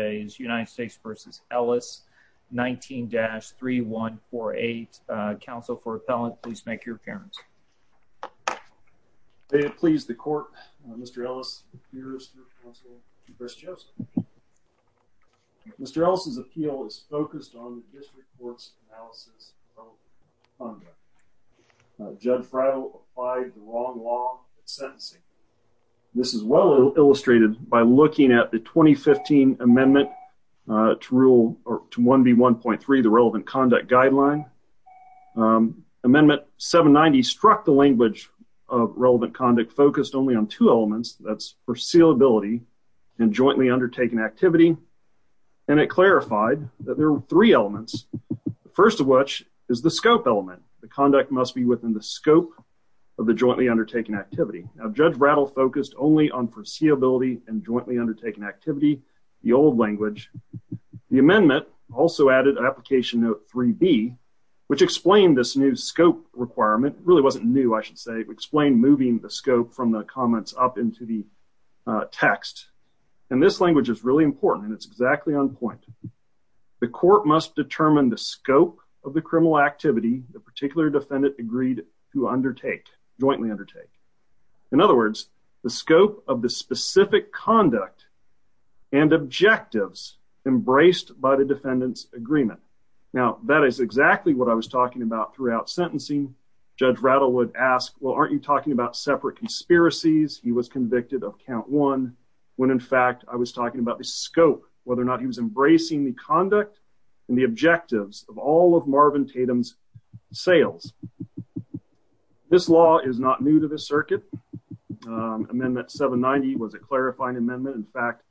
19-3148, counsel for appellant, please make your appearance. May it please the court, Mr. Ellis appears through counsel Bruce Joseph. Mr. Ellis' appeal is focused on the district court's analysis of the funda. Judge Freidel applied the wrong law in sentencing. This is well illustrated by looking at the 2015 amendment to 1B1.3, the relevant conduct guideline. Amendment 790 struck the language of relevant conduct focused only on two elements. That's foreseeability and jointly undertaken activity. And it clarified that there are three elements. The first of which is the scope element. The conduct must be within the scope of the jointly undertaken activity. Now, Judge Rattle focused only on foreseeability and jointly undertaken activity, the old language. The amendment also added an application note 3B, which explained this new scope requirement. It really wasn't new, I should say. It explained moving the scope from the comments up into the text. And this language is really important, and it's exactly on point. The court must determine the scope of the criminal activity the particular defendant agreed to undertake, jointly undertake. In other words, the scope of the specific conduct and objectives embraced by the defendant's agreement. Now, that is exactly what I was talking about throughout sentencing. Judge Rattle would ask, well, aren't you talking about separate conspiracies? He was convicted of count one when, in fact, I was talking about the scope, whether or not he was embracing the conduct and the objectives of all of Marvin Tatum's sales. This law is not new to the circuit. Amendment 790 was a clarifying amendment. In fact,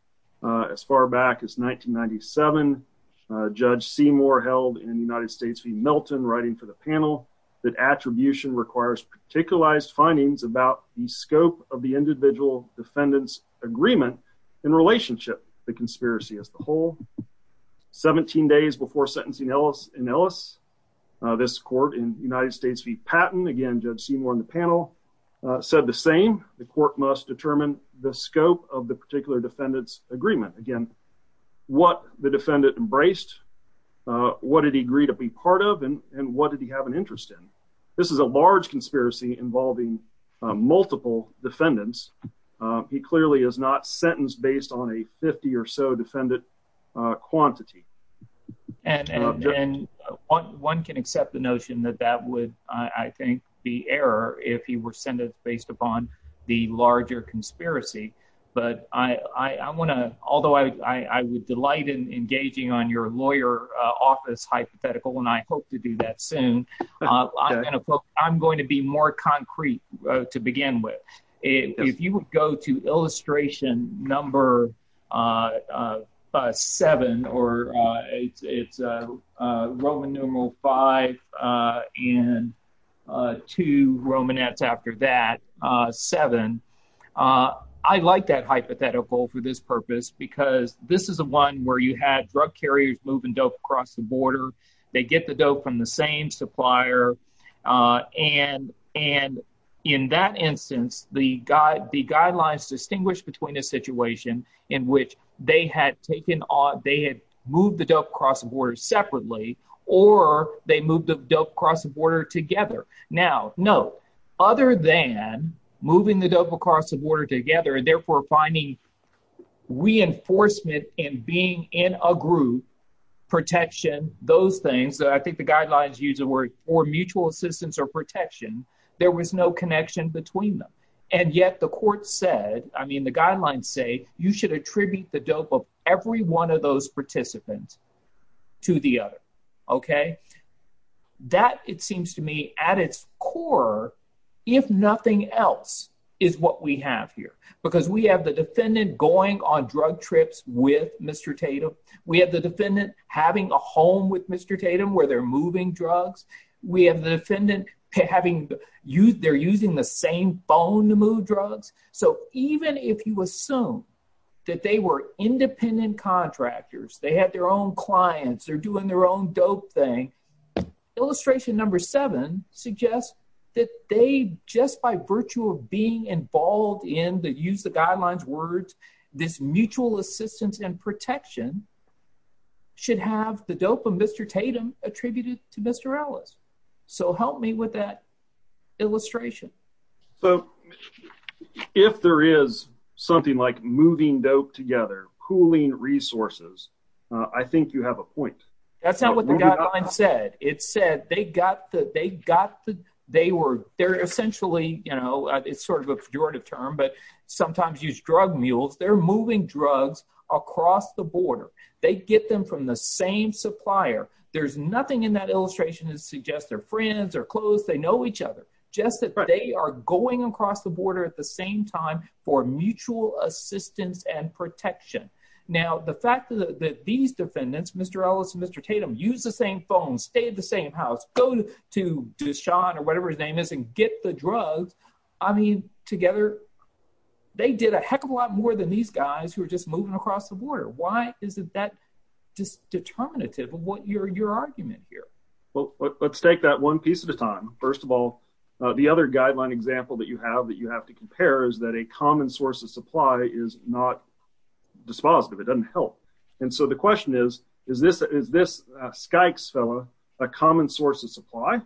as far back as 1997, Judge Seymour held in the United States v. Milton, writing for the panel, that attribution requires particularized findings about the scope of the individual defendant's agreement in relationship to the conspiracy as a whole. 17 days before sentencing in Ellis, this court in the United States v. Patton, again, Judge Seymour on the panel, said the same. The court must determine the scope of the particular defendant's agreement. Again, what the defendant embraced, what did he agree to be part of, and what did he have an interest in? This is a large conspiracy involving multiple defendants. He clearly is not sentenced based on a 50 or so defendant quantity. And one can accept the notion that that would, I think, be error if he were sentenced based upon the larger conspiracy. But I want to, although I would delight in engaging on your lawyer office hypothetical, and I hope to do that soon, I'm going to be more concrete to begin with. If you would go to illustration number seven, or it's Roman numeral five and two Romanets after that, seven. I like that hypothetical for this purpose because this is the one where you had drug carriers moving dope across the border. They get the dope from the same supplier. And in that instance, the guidelines distinguish between a situation in which they had moved the dope across the border separately, or they moved the dope across the border together. Now, no, other than moving the dope across the border together and therefore finding reinforcement in being in a group, protection, those things, I think the guidelines use the word for mutual assistance or protection, there was no connection between them. And yet the court said, I mean, the guidelines say you should attribute the dope of every one of those participants to the other. That, it seems to me, at its core, if nothing else, is what we have here. Because we have the defendant going on drug trips with Mr. Tatum. We have the defendant having a home with Mr. Tatum where they're moving drugs. We have the defendant having, they're using the same phone to move drugs. So even if you assume that they were independent contractors, they had their own clients, they're doing their own dope thing, illustration number seven suggests that they, just by virtue of being involved in, to use the guidelines words, this mutual assistance and protection, should have the dope of Mr. Tatum attributed to Mr. Ellis. So help me with that illustration. So if there is something like moving dope together, pooling resources, I think you have a point. That's not what the guidelines said. It said they got the, they got the, they were, they're essentially, you know, it's sort of a pejorative term, but sometimes use drug mules. They're moving drugs across the border. They get them from the same supplier. There's nothing in that illustration that suggests they're friends, they're close, they know each other. Just that they are going across the border at the same time for mutual assistance and protection. Now, the fact that these defendants, Mr. Ellis and Mr. Tatum, use the same phone, stay at the same house, go to Deshaun or whatever his name is and get the drugs. I mean, together, they did a heck of a lot more than these guys who are just moving across the border. Why isn't that just determinative of what your, your argument here? Well, let's take that one piece at a time. First of all, the other guideline example that you have that you have to compare is that a common source of supply is not dispositive. It doesn't help. And so the question is, is this, is this Skykes fella a common source of supply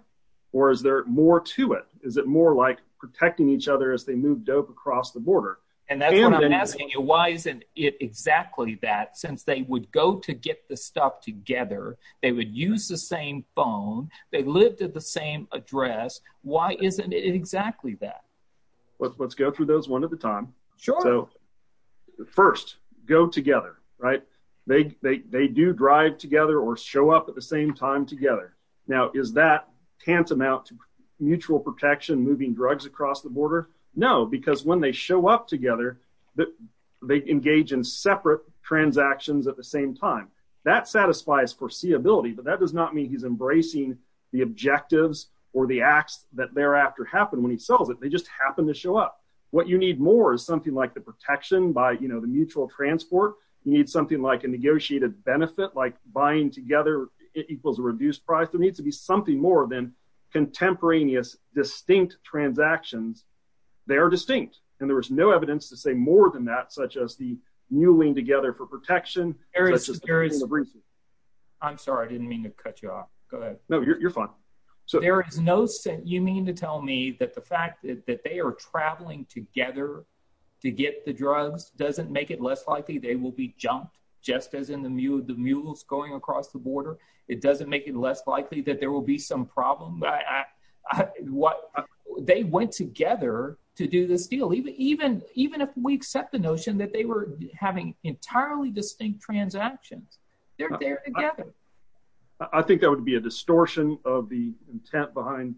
or is there more to it? Is it more like protecting each other as they move dope across the border? And that's what I'm asking you. Why isn't it exactly that since they would go to get the stuff together? They would use the same phone. They lived at the same address. Why isn't it exactly that? Let's go through those one at a time. Sure. First, go together, right? They do drive together or show up at the same time together. Now, is that tantamount to mutual protection, moving drugs across the border? No, because when they show up together, they engage in separate transactions at the same time. That satisfies foreseeability, but that does not mean he's embracing the objectives or the acts that thereafter happen when he sells it. They just happen to show up. What you need more is something like the protection by, you know, the mutual transport. You need something like a negotiated benefit, like buying together equals a reduced price. There needs to be something more than contemporaneous distinct transactions. They are distinct, and there is no evidence to say more than that, such as the mulling together for protection. I'm sorry. I didn't mean to cut you off. Go ahead. No, you're fine. There is no sense. You mean to tell me that the fact that they are traveling together to get the drugs doesn't make it less likely they will be jumped, just as in the mules going across the border? It doesn't make it less likely that there will be some problem? They went together to do this deal, even if we accept the notion that they were having entirely distinct transactions. They're there together. I think that would be a distortion of the intent behind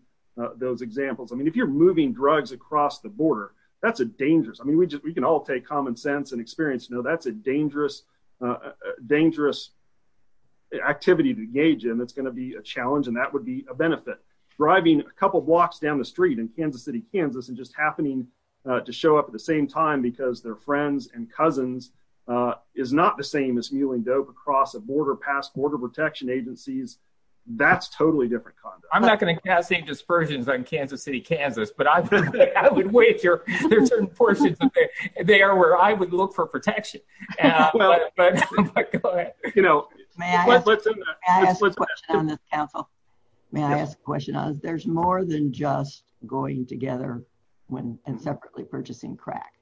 those examples. I mean, if you're moving drugs across the border, that's a dangerous—I mean, we can all take common sense and experience. No, that's a dangerous activity to engage in that's going to be a challenge, and that would be a benefit. Driving a couple blocks down the street in Kansas City, Kansas, and just happening to show up at the same time because their friends and cousins is not the same as mulling dope across a border, past border protection agencies, that's totally different conduct. I'm not going to cast any dispersions on Kansas City, Kansas, but I would wager there are certain portions of there where I would look for protection. May I ask a question on this, Council? May I ask a question? There's more than just going together and separately purchasing crack.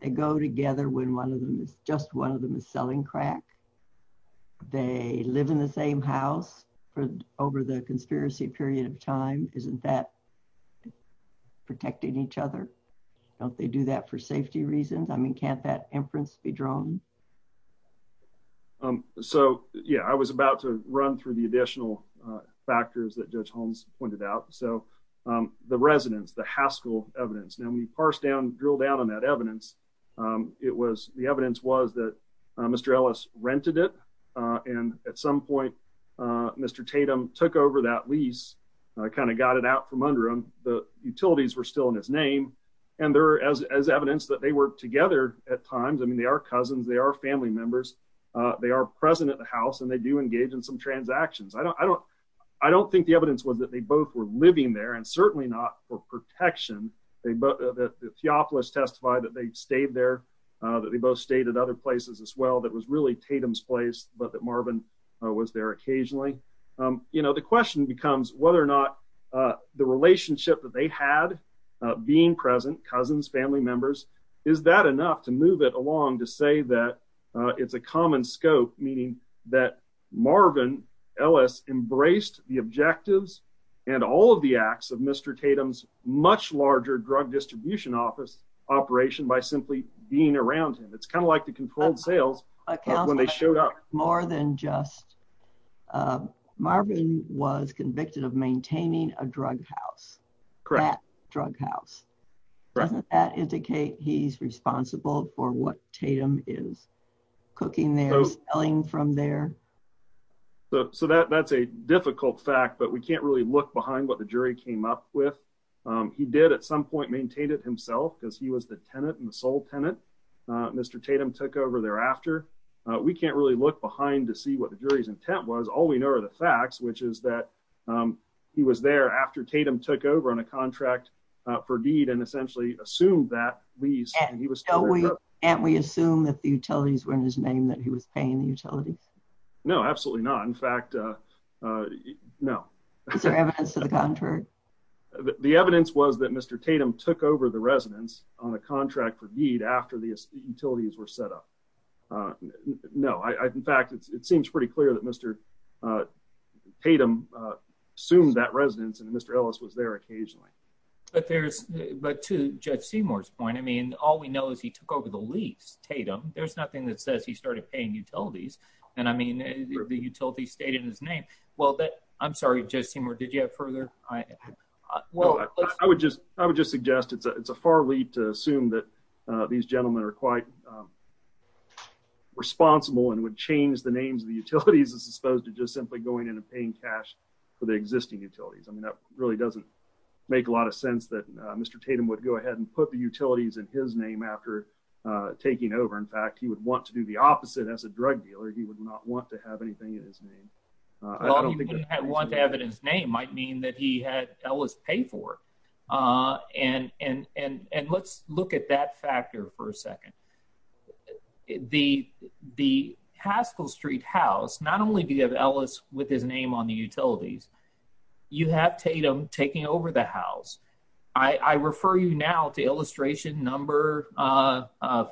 They go together when just one of them is selling crack. They live in the same house over the conspiracy period of time. Isn't that protecting each other? Don't they do that for safety reasons? I mean, can't that inference be drawn? So, yeah, I was about to run through the additional factors that Judge Holmes pointed out. The residents, the Haskell evidence. Now, when you drill down on that evidence, the evidence was that Mr. Ellis rented it, and at some point, Mr. Tatum took over that lease, kind of got it out from under him. The utilities were still in his name, and there is evidence that they were together at times. I mean, they are cousins. They are family members. They are present at the house, and they do engage in some transactions. I don't think the evidence was that they both were living there, and certainly not for protection. Theopolis testified that they stayed there, that they both stayed at other places as well. That was really Tatum's place, but that Marvin was there occasionally. You know, the question becomes whether or not the relationship that they had being present, cousins, family members, is that enough to move it along to say that it's a common scope, meaning that Marvin Ellis embraced the objectives and all of the acts of Mr. Tatum's much larger drug distribution office operation by simply being around him. It's kind of like the controlled sales when they showed up. More than just Marvin was convicted of maintaining a drug house, that drug house. Doesn't that indicate he's responsible for what Tatum is cooking there, selling from there? So that's a difficult fact, but we can't really look behind what the jury came up with. He did at some point maintain it himself because he was the tenant and the sole tenant. Mr. Tatum took over thereafter. We can't really look behind to see what the jury's intent was. All we know are the facts, which is that he was there after Tatum took over on a contract for deed and essentially assumed that lease. Can't we assume that the utilities were in his name, that he was paying the utilities? No, absolutely not. In fact, no. Is there evidence to the contrary? The evidence was that Mr. Tatum took over the residence on a contract for deed after the utilities were set up. No, in fact, it seems pretty clear that Mr. Tatum assumed that residence and Mr. Ellis was there occasionally. But to Judge Seymour's point, I mean, all we know is he took over the lease, Tatum. There's nothing that says he started paying utilities. And I mean, the utilities stayed in his name. Well, I'm sorry, Judge Seymour, did you have further? I would just suggest it's a far leap to assume that these gentlemen are quite responsible and would change the names of the utilities as opposed to just simply going in and paying cash for the existing utilities. I mean, that really doesn't make a lot of sense that Mr. Tatum would go ahead and put the utilities in his name after taking over. In fact, he would want to do the opposite as a drug dealer. He would not want to have anything in his name. Well, he wouldn't want to have it in his name might mean that he had Ellis pay for. And let's look at that factor for a second. The Haskell Street house, not only do you have Ellis with his name on the utilities, you have Tatum taking over the house. I refer you now to illustration number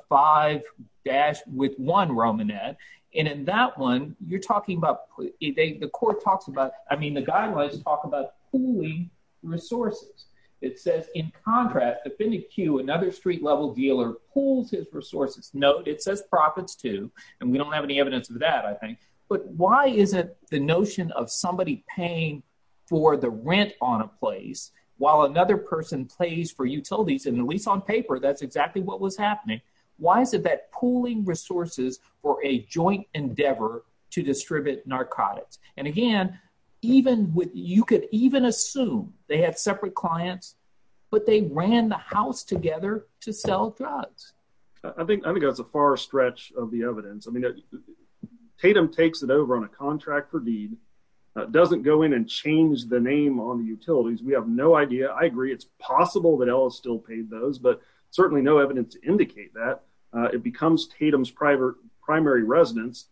five dash with one Romanette. And in that one, you're talking about the court talks about. I mean, the guidelines talk about pooling resources. It says, in contrast, if in a queue, another street level dealer pools his resources. No, it says profits, too. And we don't have any evidence of that, I think. But why is it the notion of somebody paying for the rent on a place while another person plays for utilities? And at least on paper, that's exactly what was happening. Why is it that pooling resources or a joint endeavor to distribute narcotics? And again, even with you could even assume they had separate clients, but they ran the house together to sell drugs. I think I think that's a far stretch of the evidence. I mean, Tatum takes it over on a contractor deed, doesn't go in and change the name on the utilities. We have no idea. I agree. It's possible that Ellis still paid those, but certainly no evidence to indicate that it becomes Tatum's private primary residence.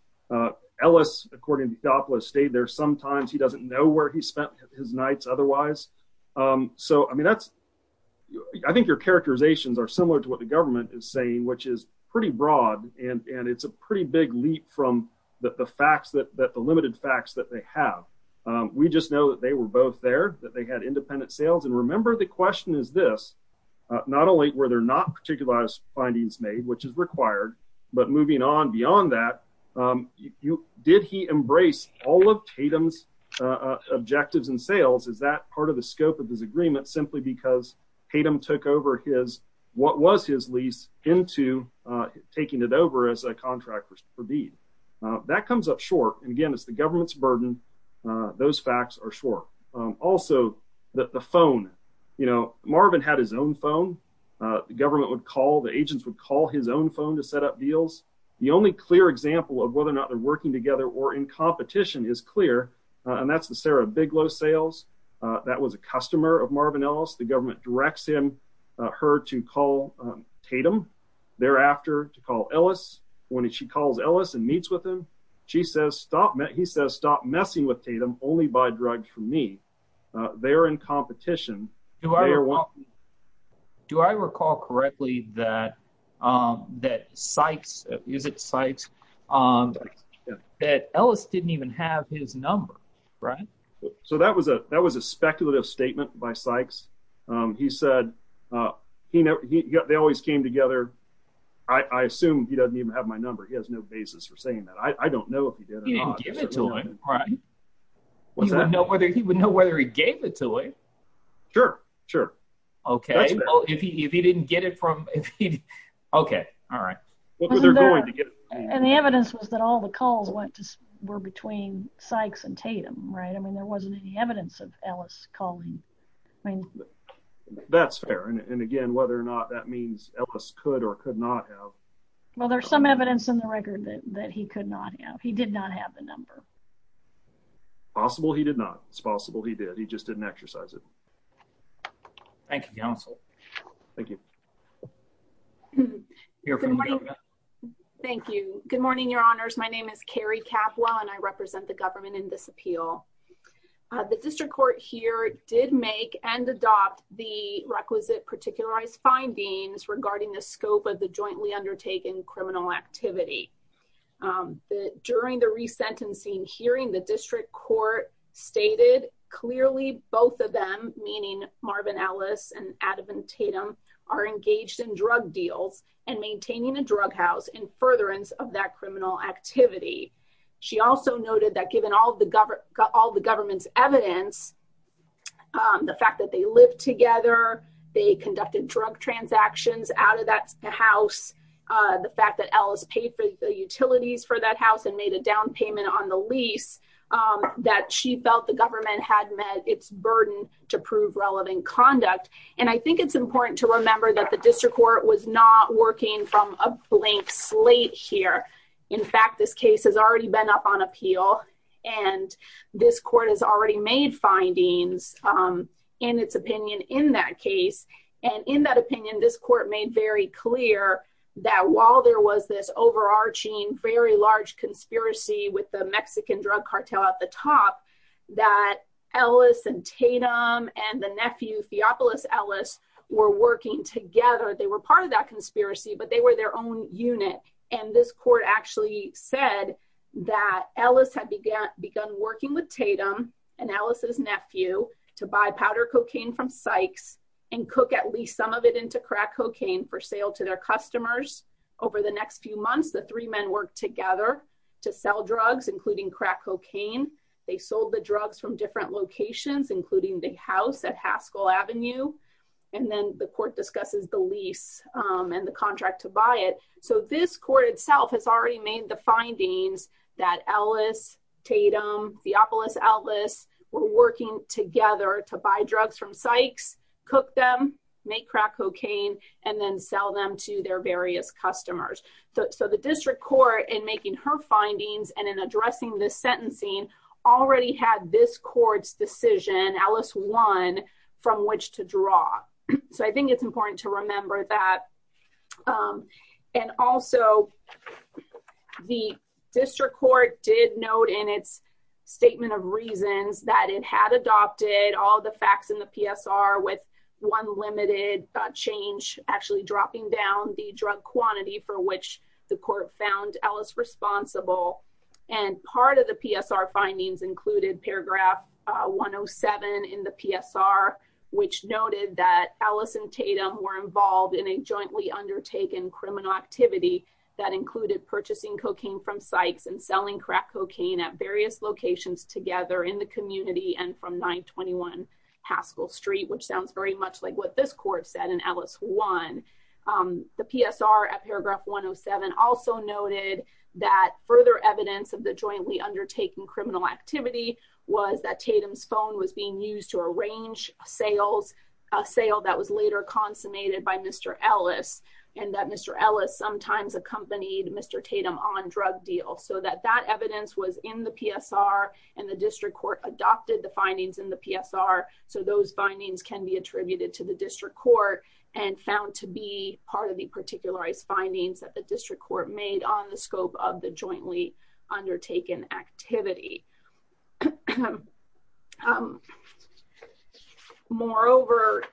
Ellis, according to Doppler, stayed there sometimes. He doesn't know where he spent his nights otherwise. So, I mean, that's I think your characterizations are similar to what the government is saying, which is pretty broad. And it's a pretty big leap from the facts that the limited facts that they have. We just know that they were both there, that they had independent sales. And remember, the question is this, not only were there not particularized findings made, which is required, but moving on beyond that, did he embrace all of Tatum's objectives and sales? Is that part of the scope of this agreement simply because Tatum took over his, what was his lease into taking it over as a contractor for deed? That comes up short. And again, it's the government's burden. Those facts are short. Also, the phone, you know, Marvin had his own phone. The government would call, the agents would call his own phone to set up deals. The only clear example of whether or not they're working together or in competition is clear. And that's the Sarah Bigelow sales. That was a customer of Marvin Ellis. The government directs him, her to call Tatum, thereafter to call Ellis. When she calls Ellis and meets with him, she says, stop, he says, stop messing with Tatum, only buy drugs from me. They're in competition. Do I recall correctly that, that Sykes, is it Sykes, that Ellis didn't even have his number, right? So that was a, that was a speculative statement by Sykes. He said, you know, they always came together. I assume he doesn't even have my number. He has no basis for saying that. I don't know if he did or not. He would know whether, he would know whether he gave it to him. Sure, sure. Okay. Well, if he, if he didn't get it from, okay. All right. And the evidence was that all the calls went to, were between Sykes and Tatum, right? I mean, there wasn't any evidence of Ellis calling. That's fair. And again, whether or not that means Ellis could or could not have. Well, there's some evidence in the record that, that he could not have, he did not have the number. Possible he did not. It's possible he did. He just didn't exercise it. Thank you, counsel. Thank you. Good morning. Thank you. Good morning, your honors. My name is Carrie Capwell and I represent the government in this appeal. The district court here did make and adopt the requisite particularized findings regarding the scope of the jointly undertaken criminal activity. During the resentencing hearing the district court stated clearly both of them, meaning Marvin Ellis and Adam Tatum are engaged in drug deals and maintaining a drug house in furtherance of that criminal activity. She also noted that given all the government, all the government's evidence, the fact that they live together, they conducted drug transactions out of that house. The fact that Ellis paid for the utilities for that house and made a down payment on the lease that she felt the government had met its burden to prove relevant conduct. And I think it's important to remember that the district court was not working from a blank slate here. In fact, this case has already been up on appeal and this court has already made findings in its opinion in that case. And in that opinion, this court made very clear that while there was this overarching, very large conspiracy with the Mexican drug cartel at the top, that Ellis and Tatum and the nephew, Theopolis Ellis, were working together. They were part of that conspiracy, but they were their own unit. And this court actually said that Ellis had begun working with Tatum and Ellis' nephew to buy powder cocaine from Sykes and cook at least some of it into crack cocaine for sale to their customers. Over the next few months, the three men worked together to sell drugs, including crack cocaine. They sold the drugs from different locations, including the house at Haskell Avenue. And then the court discusses the lease and the contract to buy it. So this court itself has already made the findings that Ellis, Tatum, Theopolis Ellis were working together to buy drugs from Sykes, cook them, make crack cocaine, and then sell them to their various customers. So the district court, in making her findings and in addressing this sentencing, already had this court's decision, Ellis won, from which to draw. So I think it's important to remember that. And also, the district court did note in its statement of reasons that it had adopted all the facts in the PSR with one limited change, actually dropping down the drug quantity for which the court found Ellis responsible. And part of the PSR findings included paragraph 107 in the PSR, which noted that Ellis and Tatum were involved in a jointly undertaken criminal activity that included purchasing cocaine from Sykes and selling crack cocaine at various locations together in the community and from 921 Haskell Street, which sounds very much like what this court said in Ellis won. The PSR at paragraph 107 also noted that further evidence of the jointly undertaken criminal activity was that Tatum's phone was being used to arrange sales, a sale that was later consummated by Mr. Ellis, and that Mr. Ellis sometimes accompanied Mr. Tatum on drug deals. So that that evidence was in the PSR and the district court adopted the findings in the PSR. So those findings can be attributed to the district court and found to be part of the particularized findings that the district court made on the scope of the jointly undertaken activity. Moreover,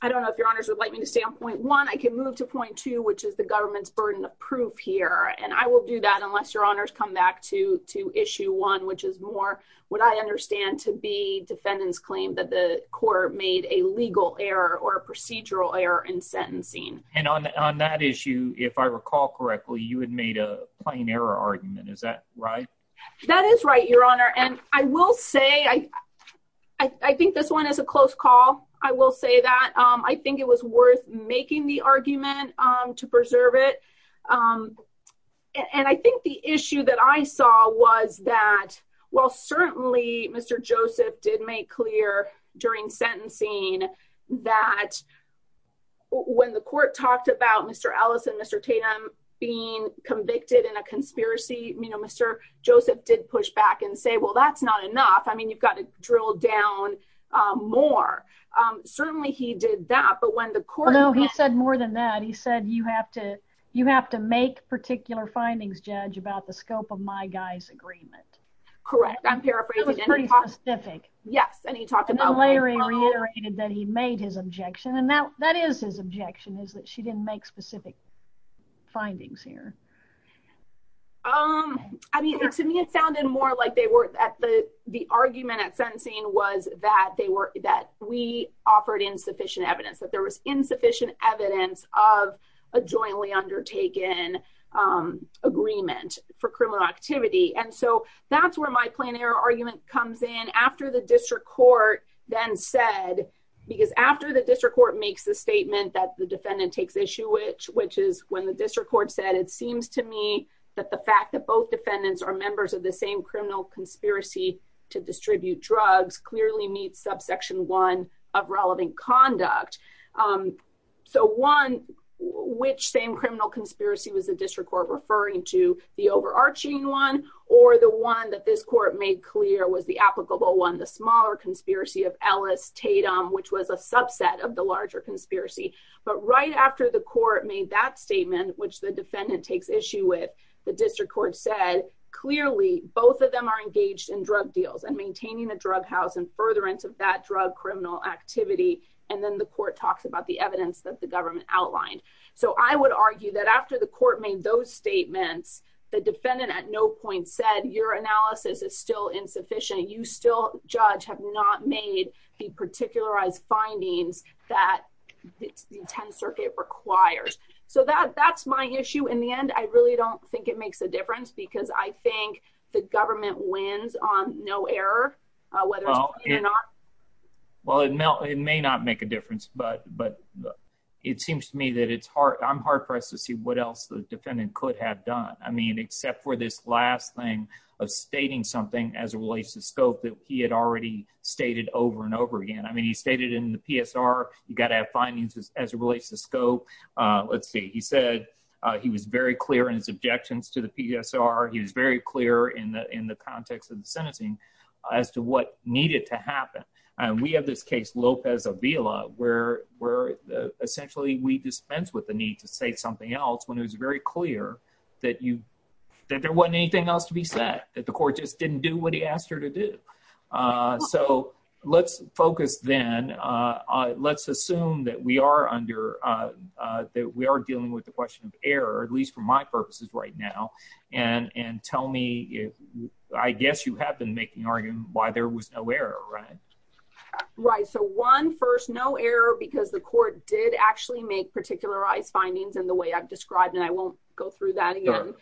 I don't know if your honors would like me to stay on point one, I can move to point two, which is the government's burden of proof here. And I will do that unless your honors come back to to issue one, which is more what I understand to be defendants claim that the court made a legal error or procedural error in sentencing. And on that issue, if I recall correctly, you had made a plain error argument. Is that right? That is right, your honor. And I will say I, I think this one is a close call. I will say that I think it was worth making the argument to preserve it. And I think the issue that I saw was that, well, certainly, Mr. Joseph did make clear during sentencing that when the court talked about Mr. Ellis and Mr. Tatum being convicted in a conspiracy, you know, Mr. Joseph did push back and say, well, that's not enough. I mean, you've got to drill down more. Certainly he did that. But when the court Well, no, he said more than that. He said, you have to, you have to make particular findings, Judge, about the scope of my guy's agreement. Correct. I'm paraphrasing. It was pretty specific. Yes, and he talked about And then later he reiterated that he made his objection. And now that is his objection is that she didn't make specific findings here. Um, I mean, to me, it sounded more like they were at the the argument at sentencing was that they were that we offered insufficient evidence that there was insufficient evidence of a jointly undertaken Agreement for criminal activity. And so that's where my plan error argument comes in after the district court then said Because after the district court makes the statement that the defendant takes issue which which is when the district court said it seems to me that the fact that both defendants are members of the same criminal conspiracy to distribute drugs clearly meets subsection one of relevant conduct. So one which same criminal conspiracy was a district court referring to the overarching one or the one that this court made clear was the applicable one the smaller conspiracy of Ellis Tatum, which was a subset of the larger conspiracy. But right after the court made that statement, which the defendant takes issue with the district court said clearly both of them are engaged in drug deals and maintaining the drug house and further into that drug criminal activity. And then the court talks about the evidence that the government outlined. So I would argue that after the court made those statements. The defendant at no point said your analysis is still insufficient. You still judge have not made the particular eyes findings that it's the 10th Circuit requires so that that's my issue. In the end, I really don't think it makes a difference because I think the government wins on no error. Well, it may not make a difference. But, but it seems to me that it's hard. I'm hard pressed to see what else the defendant could have done. I mean, except for this last thing of stating something as it relates to scope that he had already stated over and over again. I mean, he stated in the PSR, you got to have findings as it relates to scope. Let's see. He said he was very clear in his objections to the PSR. He was very clear in the in the context of the sentencing as to what needed to happen. And we have this case Lopez Avila where we're essentially we dispense with the need to say something else when it was very clear that you that there wasn't anything else to be said that the court just didn't do what he asked her to do. So let's focus then let's assume that we are under that we are dealing with the question of error, at least for my purposes right now and and tell me if I guess you have been making arguing why there was no error. Right. Right. So one first no error because the court did actually make particular eyes findings and the way I've described and I won't go through that again.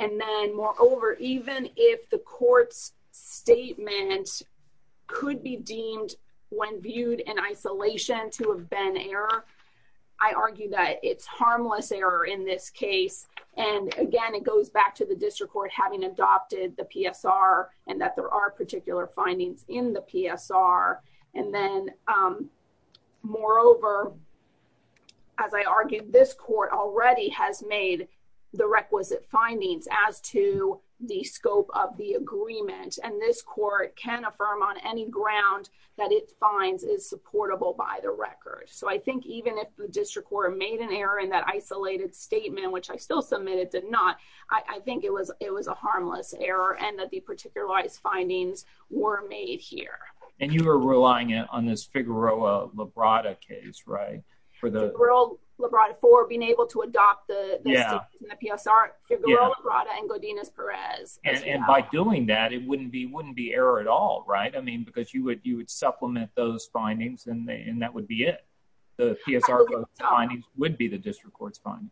And then moreover, even if the court's statement could be deemed when viewed in isolation to have been error. I argue that it's harmless error in this case. And again, it goes back to the district court having adopted the PSR and that there are particular findings in the PSR and then Moreover, As I argued this court already has made the requisite findings as to the scope of the agreement and this court can affirm on any ground that it finds is supportable by the record. So I think even if the district court made an error in that isolated statement, which I still submitted did not I think it was it was a harmless error and that the particular eyes findings were made here. And you are relying on this Figueroa Labrada case right for the For being able to adopt the PSR Figueroa Labrada and Godinez Perez. And by doing that, it wouldn't be wouldn't be error at all. Right. I mean, because you would you would supplement those findings and that would be it. The PSR would be the district courts fine.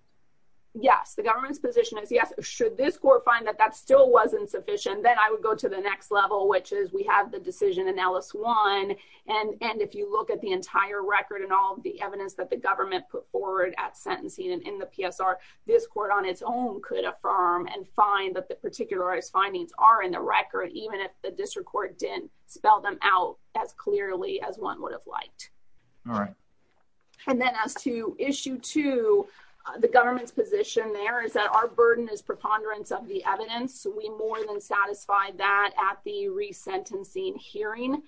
Yes, the government's position is yes. Should this court find that that still wasn't sufficient, then I would go to the next level, which is we have the decision and Alice one And and if you look at the entire record and all the evidence that the government put forward at sentencing and in the PSR This court on its own could affirm and find that the particular is findings are in the record, even if the district court didn't spell them out as clearly as one would have liked. All right. And then as to issue to the government's position there is that our burden is preponderance of the evidence we more than satisfied that at the resentencing hearing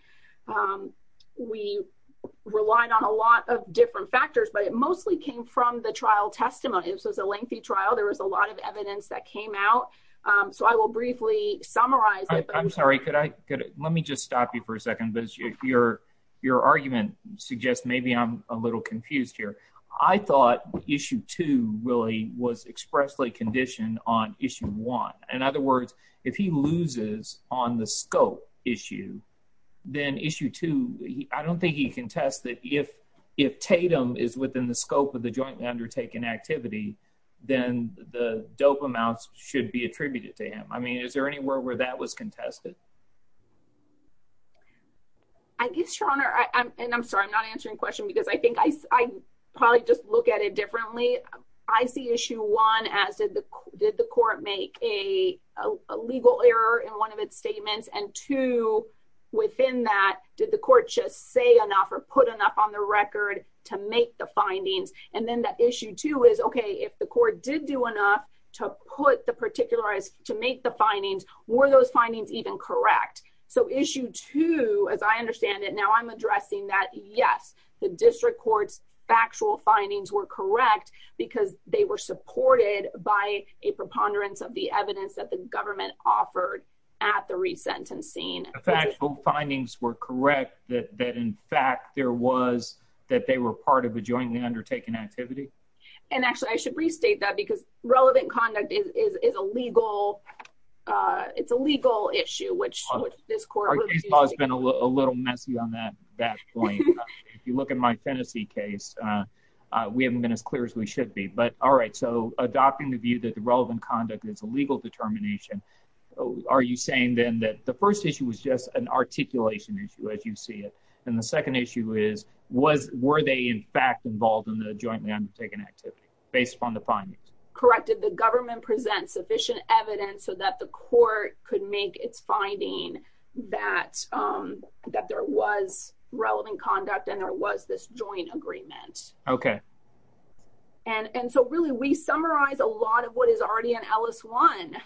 We relied on a lot of different factors, but it mostly came from the trial testimony. So it's a lengthy trial. There was a lot of evidence that came out. So I will briefly summarize I'm sorry, could I could let me just stop you for a second, but your, your argument suggests maybe I'm a little confused here. I thought issue to really was expressly condition on issue one. In other words, if he loses on the scope issue. Then issue two. I don't think he can test that if if Tatum is within the scope of the joint undertaking activity. Then the dope amounts should be attributed to him. I mean, is there anywhere where that was contested I guess your honor. I'm sorry. I'm not answering question because I think I probably just look at it differently. I see issue one as did the did the court make a legal error in one of its statements and to Did the court just say enough or put enough on the record to make the findings and then that issue to is okay if the court did do enough to put the particular is to make the findings were those findings even correct. So issue two, as I understand it. Now I'm addressing that. Yes, the district courts factual findings were correct because they were supported by a preponderance of the evidence that the government offered at the resentencing Factual findings were correct that that in fact there was that they were part of a jointly undertaken activity. And actually, I should restate that because relevant conduct is a legal. It's a legal issue which this court has been a little messy on that that You look at my Tennessee case we haven't been as clear as we should be. But, all right, so adopting the view that the relevant conduct is a legal determination. Are you saying, then, that the first issue was just an articulation issue as you see it. And the second issue is was were they in fact involved in the jointly undertaken activity based upon the findings. Corrected the government presents sufficient evidence so that the court could make its finding that that there was relevant conduct and there was this joint agreement. Okay. And and so really we summarize a lot of what is already in Ellis one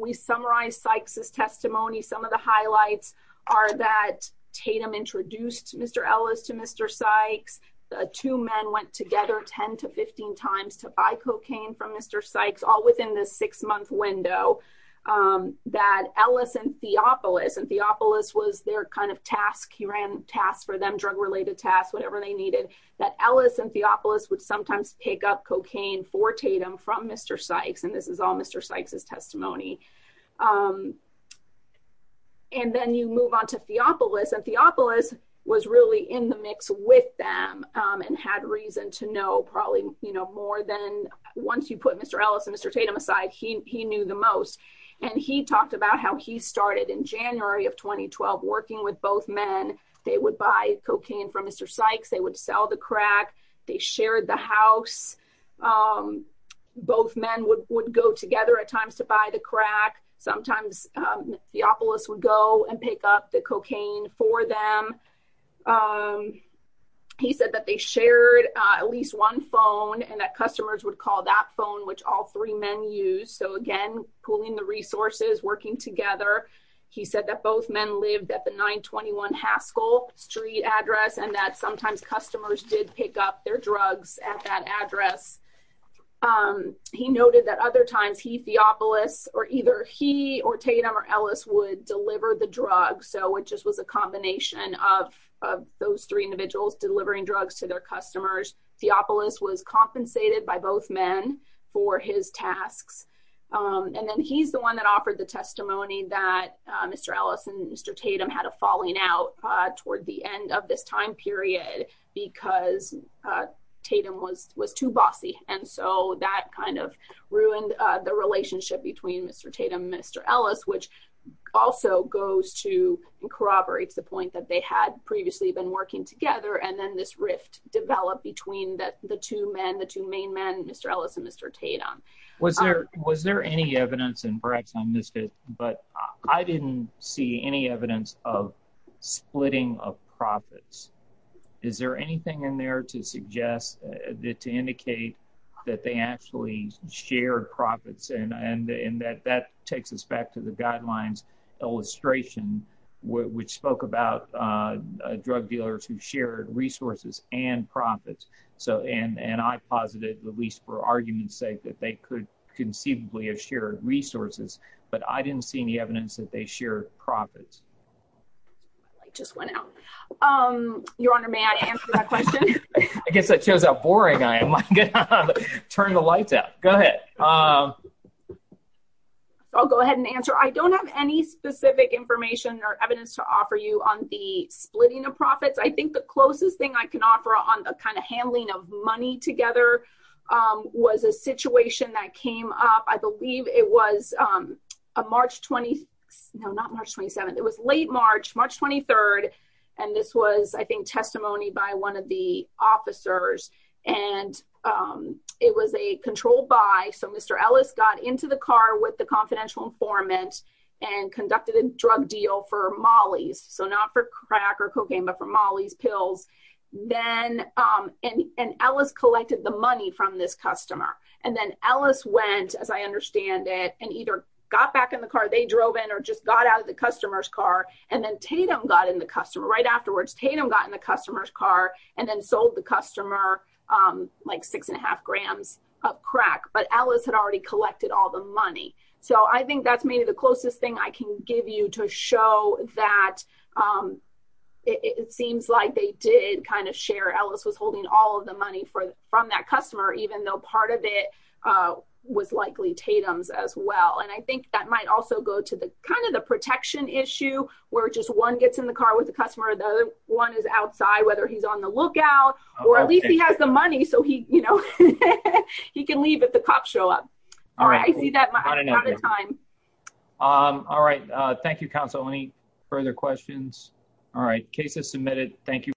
we summarize Sykes's testimony. Some of the highlights are that Tatum introduced Mr. Ellis to Mr. Sykes. The two men went together 10 to 15 times to buy cocaine from Mr. Sykes all within this six month window. That Ellis and Theopolis and Theopolis was their kind of task. He ran tasks for them drug related tasks, whatever they needed that Ellis and Theopolis would sometimes pick up cocaine for Tatum from Mr. Sykes and this is all Mr. Sykes's testimony. And then you move on to Theopolis and Theopolis was really in the mix with them and had reason to know probably, you know, more than once you put Mr. Ellis and Mr. Tatum aside, he knew the most And he talked about how he started in January of 2012 working with both men, they would buy cocaine from Mr. Sykes, they would sell the crack. They shared the house. Both men would would go together at times to buy the crack. Sometimes Theopolis would go and pick up the cocaine for them. He said that they shared at least one phone and that customers would call that phone, which all three men use. So again, pulling the resources working together. He said that both men lived at the 921 Haskell Street address and that sometimes customers did pick up their drugs at that address. He noted that other times he Theopolis or either he or Tatum or Ellis would deliver the drug. So it just was a combination of Those three individuals delivering drugs to their customers. Theopolis was compensated by both men for his tasks. And then he's the one that offered the testimony that Mr. Ellis and Mr. Tatum had a falling out toward the end of this time period because Tatum was was too bossy and so that kind of ruined the relationship between Mr. Tatum and Mr. Ellis, which Also goes to corroborate the point that they had previously been working together and then this rift developed between the two men, the two main men, Mr. Ellis and Mr. Tatum Was there, was there any evidence and perhaps I missed it, but I didn't see any evidence of splitting of profits. Is there anything in there to suggest that to indicate that they actually shared profits and and and that that takes us back to the guidelines illustration, which spoke about Drug dealers who shared resources and profits so and and I posited, at least for argument's sake, that they could conceivably have shared resources, but I didn't see any evidence that they shared profits. I just went out. Um, Your Honor, may I answer that question. I guess that shows how boring I am. Turn the lights out. Go ahead. I'll go ahead and answer. I don't have any specific information or evidence to offer you on the splitting of profits. I think the closest thing I can offer on the kind of handling of money together. Was a situation that came up. I believe it was a March 26 no not March 27 it was late March, March 23 and this was, I think, testimony by one of the officers and It was a controlled by so Mr. Ellis got into the car with the confidential informant and conducted a drug deal for Molly's so not for crack or cocaine, but for Molly's pills. Then, um, and and Ellis collected the money from this customer and then Ellis went, as I understand it, and either got back in the car. They drove in or just got out of the customer's car and then Tatum got in the customer right afterwards Tatum got in the customer's car and then sold the customer. Like six and a half grams of crack, but Alice had already collected all the money. So I think that's maybe the closest thing I can give you to show that It seems like they did kind of share Ellis was holding all of the money for from that customer, even though part of it. Was likely Tatum's as well. And I think that might also go to the kind of the protection issue where just one gets in the car with the customer. The other one is outside, whether he's on the lookout, or at least he has the money so he, you know, He can leave at the cop show up. Um, all right. Thank you, counsel. Any further questions. All right, cases submitted. Thank you.